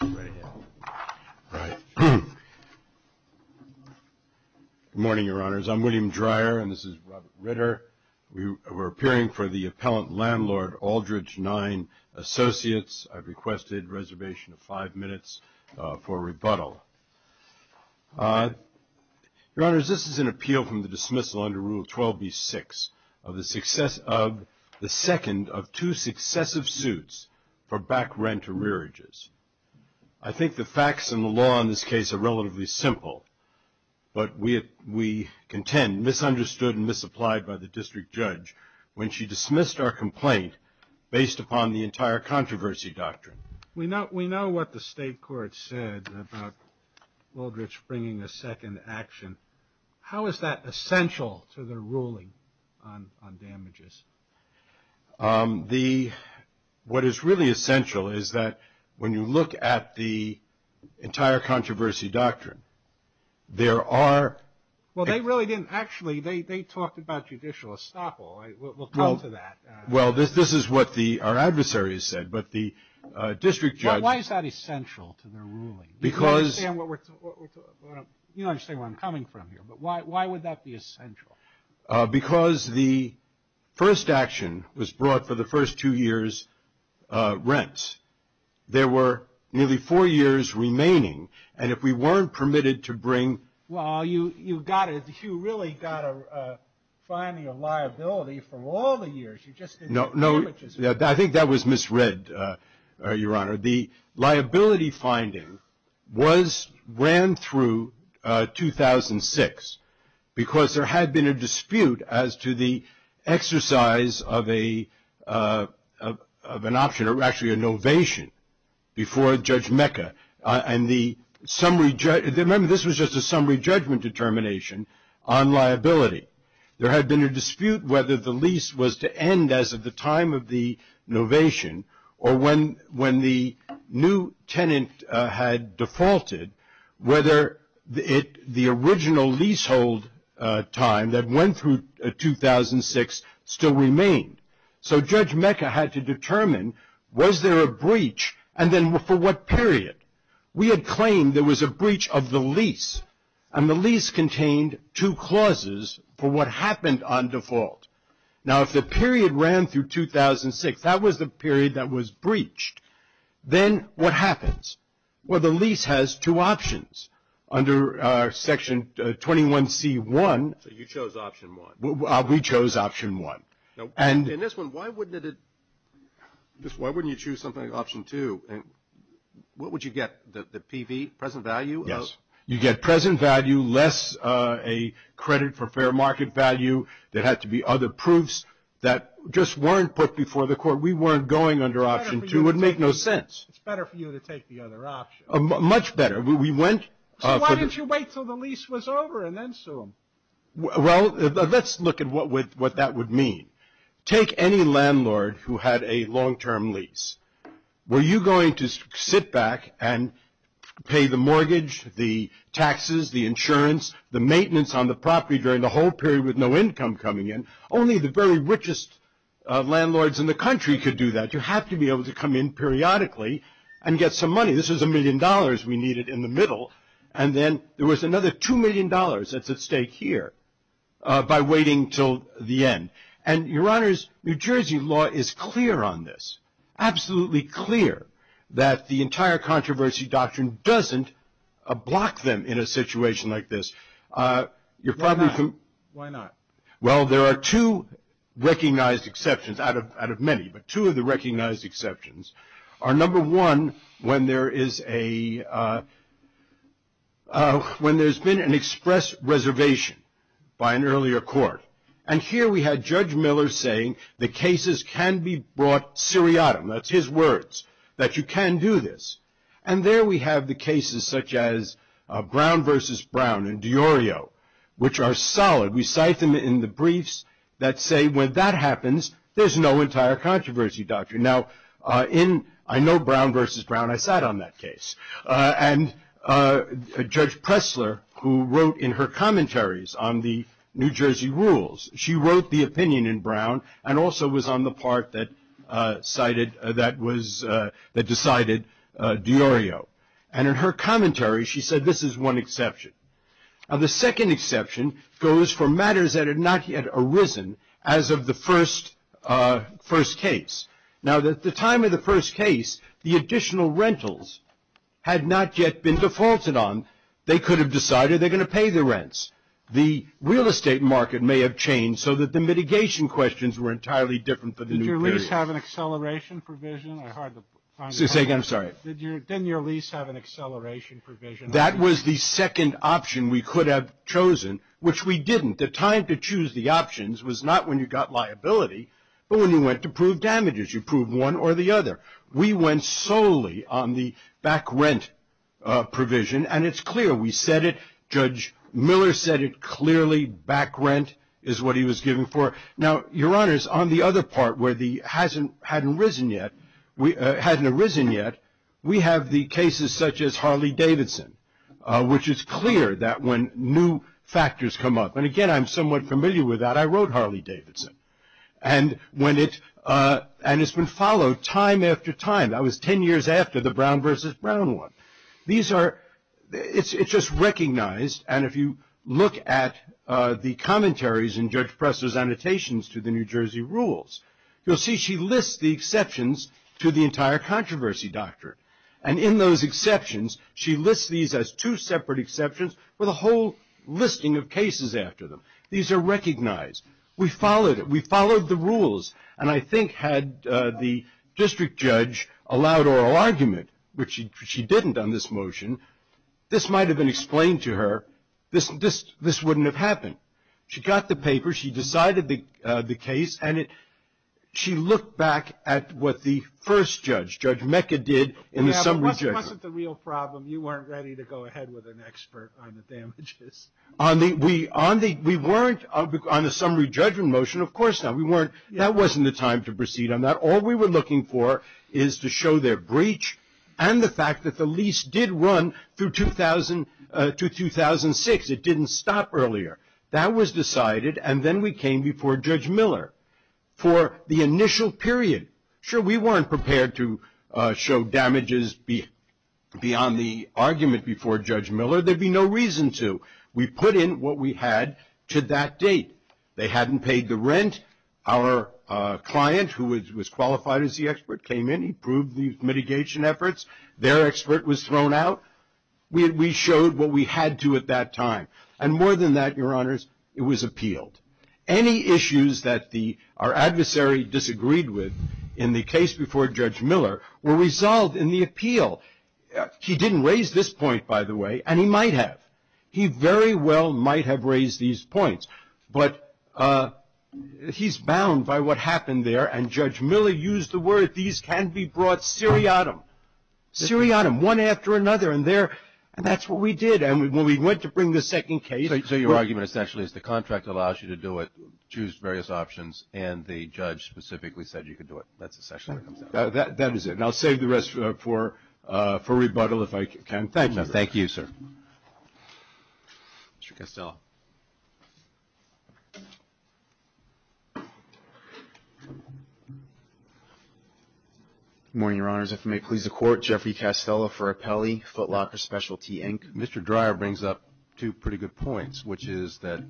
Good morning, Your Honors. I'm William Dreyer and this is Robert Ritter. We're appearing for the Appellant Landlord Aldrich Nine Associates. I've requested a reservation of five minutes for rebuttal. Your Honors, this is an appeal from the dismissal under Rule 12b-6 of the second of two successive suits for back rent or rearages. I think the facts and the law in this case are relatively simple, but we contend misunderstood and misapplied by the District Judge when she dismissed our complaint based upon the entire controversy doctrine. We know what the State Court said about Aldrich bringing a second action. How is that essential to the ruling on damages? What is really essential is that when you look at the entire controversy doctrine, there are... Well, they really didn't actually, they talked about judicial estoppel. We'll come to that. Well, this is what our adversaries said, but the District Judge... Why is that essential to the ruling? Because... You don't understand where I'm coming from here, but why would that be essential? Because the first action was brought for the first two years' rent. There were nearly four years remaining, and if we weren't permitted to bring... Well, you really got a finding of liability for all the years. No, I think that was misread, Your Honor. The liability finding ran through 2006 because there had been a dispute as to the exercise of an option, or actually a novation, before Judge Mecca. And the summary... Remember, this was just a summary judgment determination on liability. There had been a dispute whether the lease was to end as of the time of the novation, or when the new tenant had defaulted, whether the original leasehold time that went through 2006 still remained. So Judge Mecca had to determine, was there a breach, and then for what period? We had claimed there was a breach of the lease, and the lease contained two clauses for what happened on default. Now, if the period ran through 2006, that was the period that was breached, then what happens? Well, the lease has two options. Under Section 21C1... So you chose option one. We chose option one. Now, in this one, why wouldn't it... Why wouldn't you choose something like option two? What would you get, the PV, present value? Yes. You get present value, less credit for fair market value. There had to be other proofs that just weren't put before the court. We weren't going under option two. It would make no sense. It's better for you to take the other option. Much better. So why didn't you wait until the lease was over and then sue them? Well, let's look at what that would mean. Take any landlord who had a long-term lease. Were you going to sit back and pay the mortgage, the taxes, the insurance, the maintenance on the property during the whole period with no income coming in? Only the very richest landlords in the country could do that. You have to be able to come in periodically and get some money. This was a million dollars we needed in the middle, and then there was another $2 million that's at stake here by waiting until the end. And, Your Honors, New Jersey law is clear on this, absolutely clear that the entire controversy doctrine doesn't block them in a situation like this. Why not? Well, there are two recognized exceptions out of many, but two of the recognized exceptions are, number one, when there's been an express reservation by an earlier court. And here we had Judge Miller saying the cases can be brought seriatim. That's his words, that you can do this. And there we have the cases such as Brown v. Brown and DiOrio, which are solid. We cite them in the briefs that say when that happens, there's no entire controversy doctrine. Now, I know Brown v. Brown. I sat on that case. And Judge Pressler, who wrote in her commentaries on the New Jersey rules, she wrote the opinion in Brown and also was on the part that decided DiOrio. And in her commentary, she said this is one exception. Now, the second exception goes for matters that had not yet arisen as of the first case. Now, at the time of the first case, the additional rentals had not yet been defaulted on. They could have decided they're going to pay the rents. The real estate market may have changed so that the mitigation questions were entirely different for the new period. Did your lease have an acceleration provision? Say again. I'm sorry. Didn't your lease have an acceleration provision? That was the second option we could have chosen, which we didn't. The time to choose the options was not when you got liability, but when you went to prove damages. You proved one or the other. We went solely on the back rent provision, and it's clear. We said it. Judge Miller said it clearly. Back rent is what he was giving for. Now, Your Honors, on the other part where the hadn't arisen yet, we have the cases such as Harley-Davidson, which is clear that when new factors come up. And, again, I'm somewhat familiar with that. I wrote Harley-Davidson. And it's been followed time after time. That was ten years after the Brown v. Brown one. It's just recognized. And if you look at the commentaries in Judge Presto's annotations to the New Jersey rules, you'll see she lists the exceptions to the entire controversy doctrine. And in those exceptions, she lists these as two separate exceptions with a whole listing of cases after them. These are recognized. We followed it. We followed the rules. And I think had the district judge allowed oral argument, which she didn't on this motion, this might have been explained to her. This wouldn't have happened. She got the paper. She decided the case. And she looked back at what the first judge, Judge Mecca, did in the summary judgment. It wasn't the real problem. You weren't ready to go ahead with an expert on the damages. On the summary judgment motion, of course not. That wasn't the time to proceed on that. All we were looking for is to show their breach and the fact that the lease did run through 2000 to 2006. It didn't stop earlier. That was decided. And then we came before Judge Miller for the initial period. Sure, we weren't prepared to show damages beyond the argument before Judge Miller. There'd be no reason to. We put in what we had to that date. They hadn't paid the rent. Our client, who was qualified as the expert, came in. He proved the mitigation efforts. Their expert was thrown out. We showed what we had to at that time. And more than that, Your Honors, it was appealed. Any issues that our adversary disagreed with in the case before Judge Miller were resolved in the appeal. He didn't raise this point, by the way, and he might have. He very well might have raised these points. But he's bound by what happened there. And Judge Miller used the word, these can be brought seriatim. Seriatim, one after another. And that's what we did. And when we went to bring the second case. So your argument essentially is the contract allows you to do it, choose various options, and the judge specifically said you could do it. That's essentially what it comes down to. That is it. And I'll save the rest for rebuttal if I can. Thank you. Thank you, sir. Mr. Castello. Good morning, Your Honors. If it may please the Court, Jeffrey Castello for Appellee, Foot Locker Specialty, Inc. Mr. Dreyer brings up two pretty good points, which is that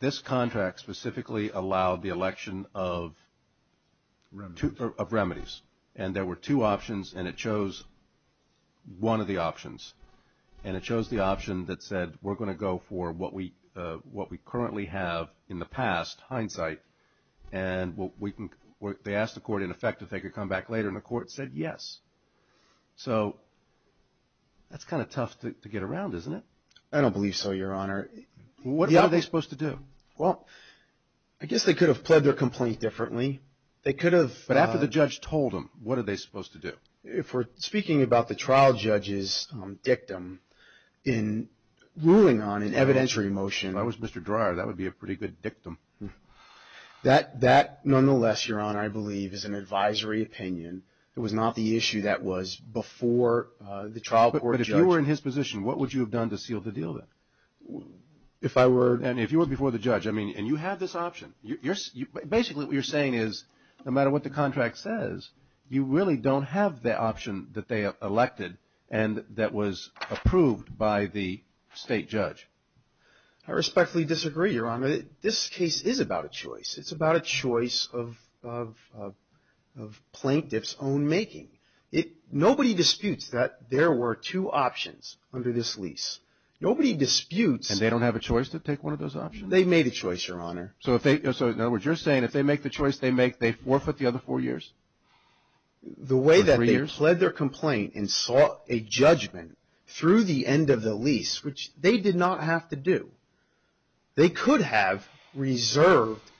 this contract specifically allowed the election of remedies. And there were two options, and it chose one of the options. And it chose the option that said we're going to go for what we currently have in the past, hindsight. And they asked the Court in effect if they could come back later, and the Court said yes. So that's kind of tough to get around, isn't it? I don't believe so, Your Honor. What are they supposed to do? Well, I guess they could have pled their complaint differently. They could have. But after the judge told them, what are they supposed to do? If we're speaking about the trial judge's dictum in ruling on an evidentiary motion. If I was Mr. Dreyer, that would be a pretty good dictum. That nonetheless, Your Honor, I believe is an advisory opinion. It was not the issue that was before the trial court judge. But if you were in his position, what would you have done to seal the deal then? If I were. And if you were before the judge. I mean, and you have this option. Basically, what you're saying is no matter what the contract says, you really don't have the option that they have elected and that was approved by the state judge. I respectfully disagree, Your Honor. This case is about a choice. It's about a choice of plaintiff's own making. Nobody disputes that there were two options under this lease. Nobody disputes. And they don't have a choice to take one of those options? They made a choice, Your Honor. So, in other words, you're saying if they make the choice they make, they forfeit the other four years? The way that they pled their complaint and sought a judgment through the end of the lease, which they did not have to do. They could have reserved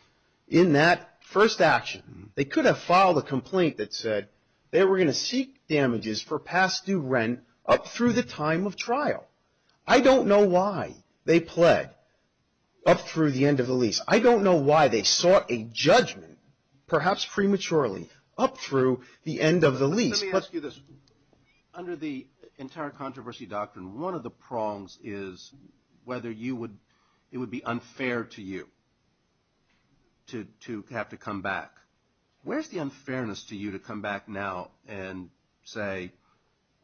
in that first action. They could have filed a complaint that said they were going to seek damages for past due rent up through the time of trial. I don't know why they pled up through the end of the lease. I don't know why they sought a judgment, perhaps prematurely, up through the end of the lease. Let me ask you this. Under the entire controversy doctrine, one of the prongs is whether it would be unfair to you to have to come back. Where's the unfairness to you to come back now and say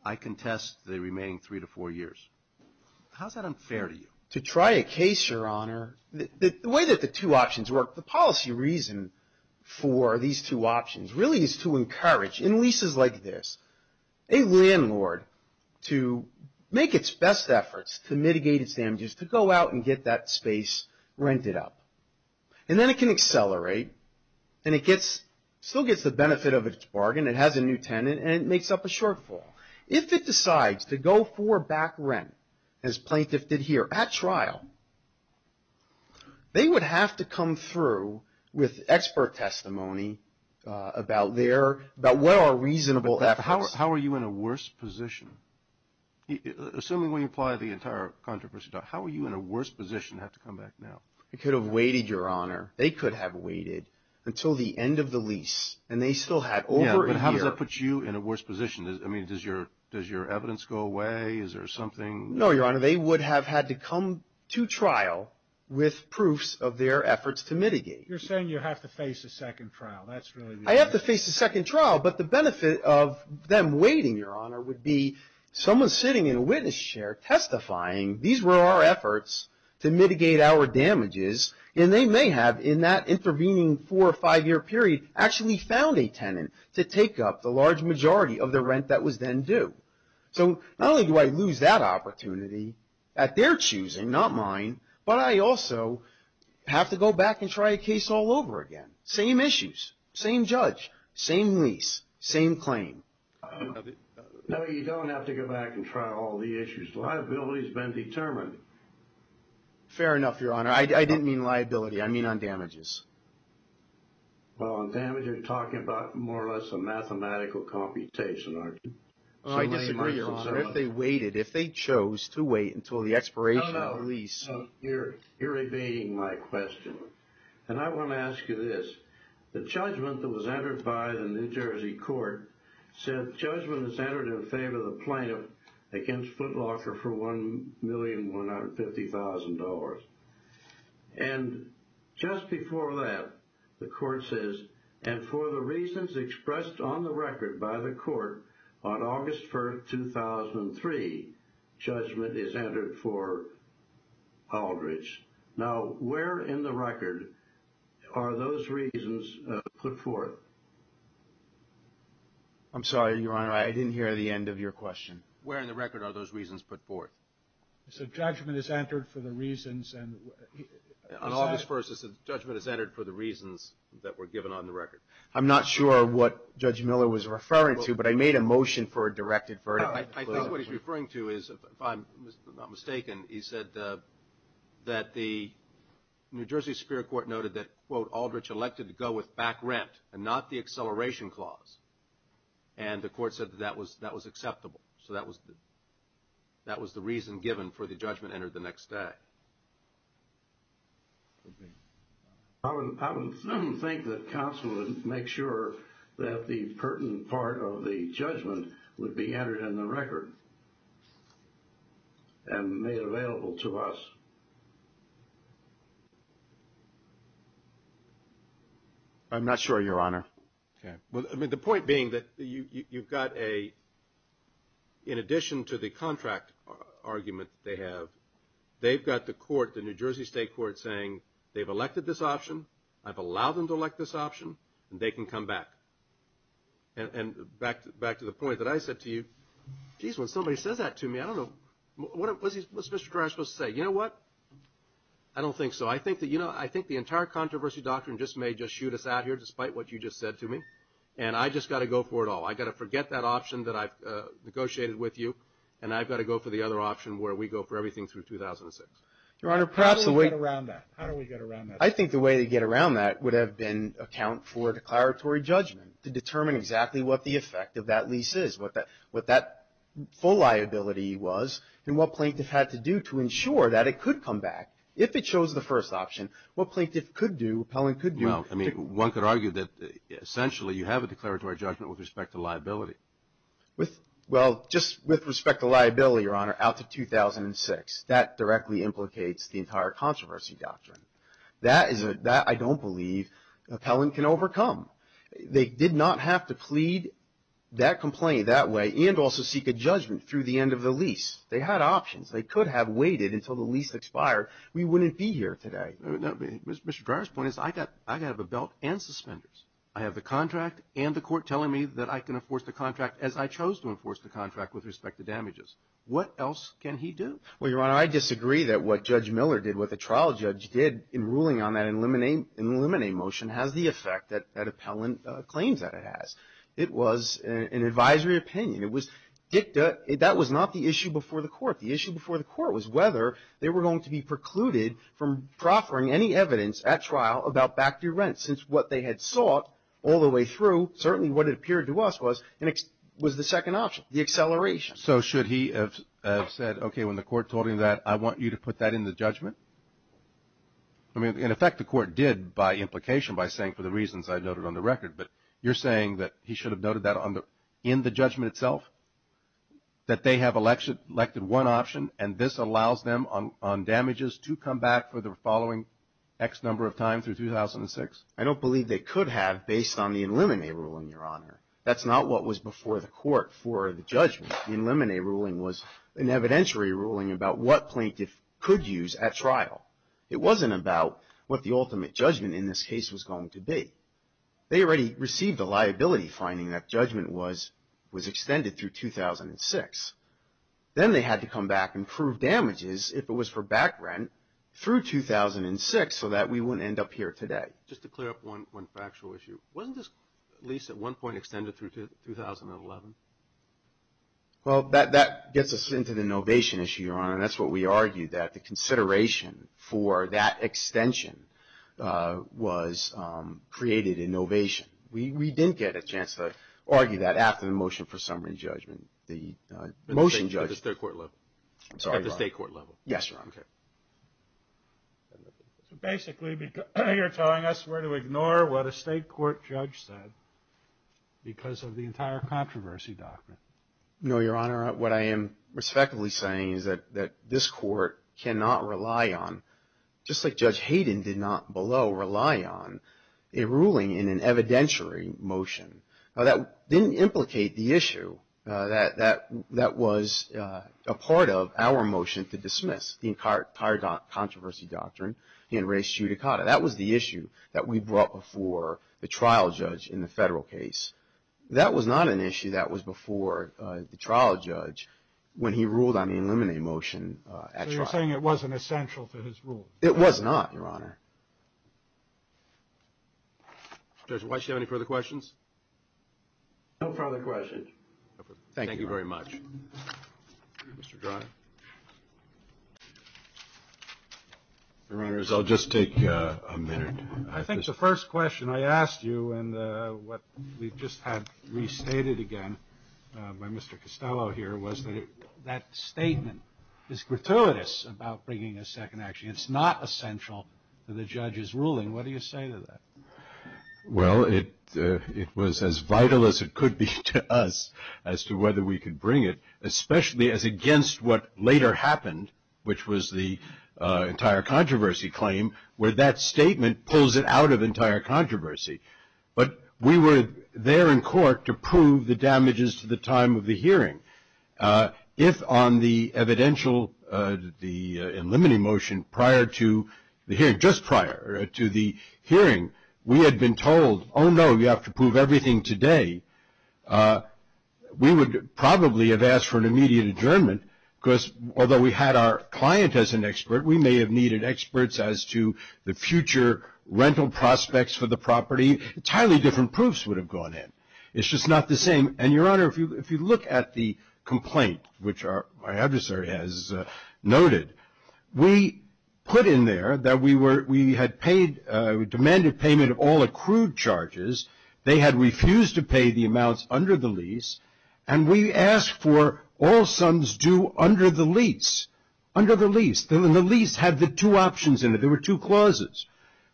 I contest the remaining three to four years? How's that unfair to you? To try a case, Your Honor. The way that the two options work, the policy reason for these two options really is to encourage, in leases like this, a landlord to make its best efforts to mitigate its damages to go out and get that space rented up. And then it can accelerate and it still gets the benefit of its bargain. It has a new tenant and it makes up a shortfall. If it decides to go for back rent, as plaintiff did here at trial, they would have to come through with expert testimony about where are reasonable efforts. But how are you in a worse position? Assuming we apply the entire controversy doctrine, how are you in a worse position to have to come back now? It could have waited, Your Honor. They could have waited until the end of the lease and they still had over a year. How does that put you in a worse position? Does your evidence go away? Is there something? No, Your Honor. They would have had to come to trial with proofs of their efforts to mitigate. You're saying you have to face a second trial. I have to face a second trial. But the benefit of them waiting, Your Honor, would be someone sitting in a witness chair testifying these were our efforts to mitigate our damages. And they may have, in that intervening four or five year period, actually found a tenant to take up the large majority of the rent that was then due. So not only do I lose that opportunity at their choosing, not mine, but I also have to go back and try a case all over again. Same issues. Same judge. Same lease. Same claim. No, you don't have to go back and try all the issues. Liability has been determined. Fair enough, Your Honor. I didn't mean liability. I mean on damages. Well, on damages, you're talking about more or less a mathematical computation, aren't you? I disagree, Your Honor. If they waited, if they chose to wait until the expiration of the lease. No, no. You're evading my question. And I want to ask you this. The judgment that was entered by the New Jersey court said judgment was entered in favor of the plaintiff against Foot Locker for $1,150,000. And just before that, the court says, and for the reasons expressed on the record by the court on August 1, 2003, judgment is entered for Aldridge. Now, where in the record are those reasons put forth? I'm sorry, Your Honor. I didn't hear the end of your question. Where in the record are those reasons put forth? It said judgment is entered for the reasons. On August 1, it said judgment is entered for the reasons that were given on the record. I'm not sure what Judge Miller was referring to, but I made a motion for a directed verdict. I think what he's referring to is, if I'm not mistaken, he said that the New Jersey Superior Court noted that, quote, Aldridge elected to go with back rent and not the acceleration clause. And the court said that that was acceptable. So that was the reason given for the judgment entered the next day. I would think that counsel would make sure that the pertinent part of the judgment would be entered in the record and made available to us. I'm not sure, Your Honor. Okay. court saying they've elected this option, I've allowed them to elect this option, and they can come back. And back to the point that I said to you, geez, when somebody says that to me, I don't know. What's Mr. Carrash supposed to say? You know what? I don't think so. I think the entire controversy doctrine just may just shoot us out here, despite what you just said to me. And I've just got to go for it all. I've got to forget that option that I've negotiated with you, and I've got to go for the other option where we go for everything through 2006. How do we get around that? I think the way to get around that would have been account for declaratory judgment to determine exactly what the effect of that lease is, what that full liability was, and what plaintiff had to do to ensure that it could come back. If it chose the first option, what plaintiff could do, appellant could do. Well, I mean, one could argue that essentially you have a declaratory judgment with respect to liability. Well, just with respect to liability, Your Honor, out to 2006. That directly implicates the entire controversy doctrine. That I don't believe appellant can overcome. They did not have to plead that complaint that way and also seek a judgment through the end of the lease. They had options. They could have waited until the lease expired. We wouldn't be here today. Mr. Carrash's point is I've got to have a belt and suspenders. I have the contract and the court telling me that I can enforce the contract as I chose to enforce the contract with respect to damages. What else can he do? Well, Your Honor, I disagree that what Judge Miller did, what the trial judge did in ruling on that eliminate motion, has the effect that appellant claims that it has. It was an advisory opinion. It was dicta. That was not the issue before the court. The issue before the court was whether they were going to be precluded from proffering any evidence at trial about back-due rents, since what they had sought all the way through, certainly what it appeared to us was the second option, the acceleration. So should he have said, okay, when the court told him that, I want you to put that in the judgment? I mean, in effect, the court did, by implication, by saying, for the reasons I noted on the record. But you're saying that he should have noted that in the judgment itself, that they have elected one option, and this allows them on damages to come back for the following X number of times through 2006? I don't believe they could have, based on the eliminate rule, Your Honor. That's not what was before the court for the judgment. The eliminate ruling was an evidentiary ruling about what plaintiff could use at trial. It wasn't about what the ultimate judgment in this case was going to be. They already received a liability finding that judgment was extended through 2006. Then they had to come back and prove damages, if it was for back rent, through 2006 so that we wouldn't end up here today. Just to clear up one factual issue. Wasn't this, at least at one point, extended through 2011? Well, that gets us into the innovation issue, Your Honor, and that's what we argued, that the consideration for that extension created innovation. We didn't get a chance to argue that after the motion for summary judgment. At the state court level? Yes, Your Honor. Okay. So basically, you're telling us we're to ignore what a state court judge said because of the entire controversy document. No, Your Honor. What I am respectively saying is that this court cannot rely on, just like Judge Hayden did not below, rely on a ruling in an evidentiary motion. Now, that didn't implicate the issue that was a part of our motion to dismiss the entire controversy doctrine in res judicata. That was the issue that we brought before the trial judge in the federal case. That was not an issue that was before the trial judge when he ruled on the eliminate motion at trial. So you're saying it wasn't essential to his rule? It was not, Your Honor. Judge White, do you have any further questions? No further questions. Thank you very much. Mr. Dryer. Your Honors, I'll just take a minute. I think the first question I asked you and what we just had restated again by Mr. Costello here was that statement is gratuitous about bringing a second action. It's not essential to the judge's ruling. What do you say to that? Well, it was as vital as it could be to us as to whether we could bring it, especially as against what later happened, which was the entire controversy claim where that statement pulls it out of entire controversy. But we were there in court to prove the damages to the time of the hearing. If on the evidential, the eliminating motion prior to the hearing, just prior to the hearing, we had been told, oh, no, you have to prove everything today, we would probably have asked for an immediate adjournment, because although we had our client as an expert, we may have needed experts as to the future rental prospects for the property. Entirely different proofs would have gone in. It's just not the same. And, Your Honor, if you look at the complaint, which my adversary has noted, we put in there that we had paid, demanded payment of all accrued charges. They had refused to pay the amounts under the lease, and we asked for all sums due under the lease. Under the lease. The lease had the two options in it. There were two clauses.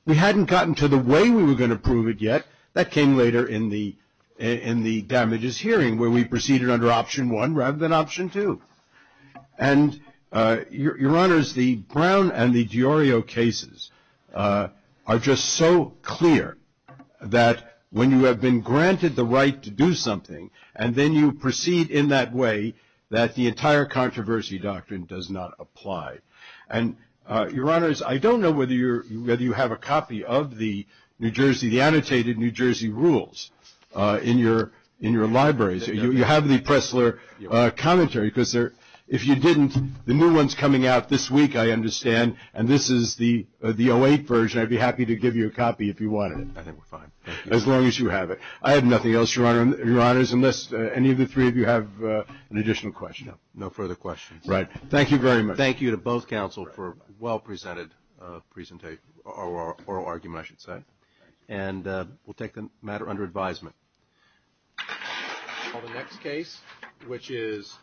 We hadn't gotten to the way we were going to prove it yet. That came later in the damages hearing, where we proceeded under option one rather than option two. And, Your Honors, the Brown and the DiOrio cases are just so clear that when you have been granted the right to do something, and then you proceed in that way, that the entire controversy doctrine does not apply. And, Your Honors, I don't know whether you have a copy of the annotated New Jersey rules in your libraries. You have the Pressler commentary, because if you didn't, the new one's coming out this week, I understand, and this is the 08 version. I'd be happy to give you a copy if you wanted it. I think we're fine. As long as you have it. I have nothing else, Your Honors, unless any of the three of you have an additional question. No further questions. Right. Thank you very much. Thank you to both counsel for a well-presented oral argument, I should say. Thank you. And we'll take the matter under advisement. I'll call the next case, which is...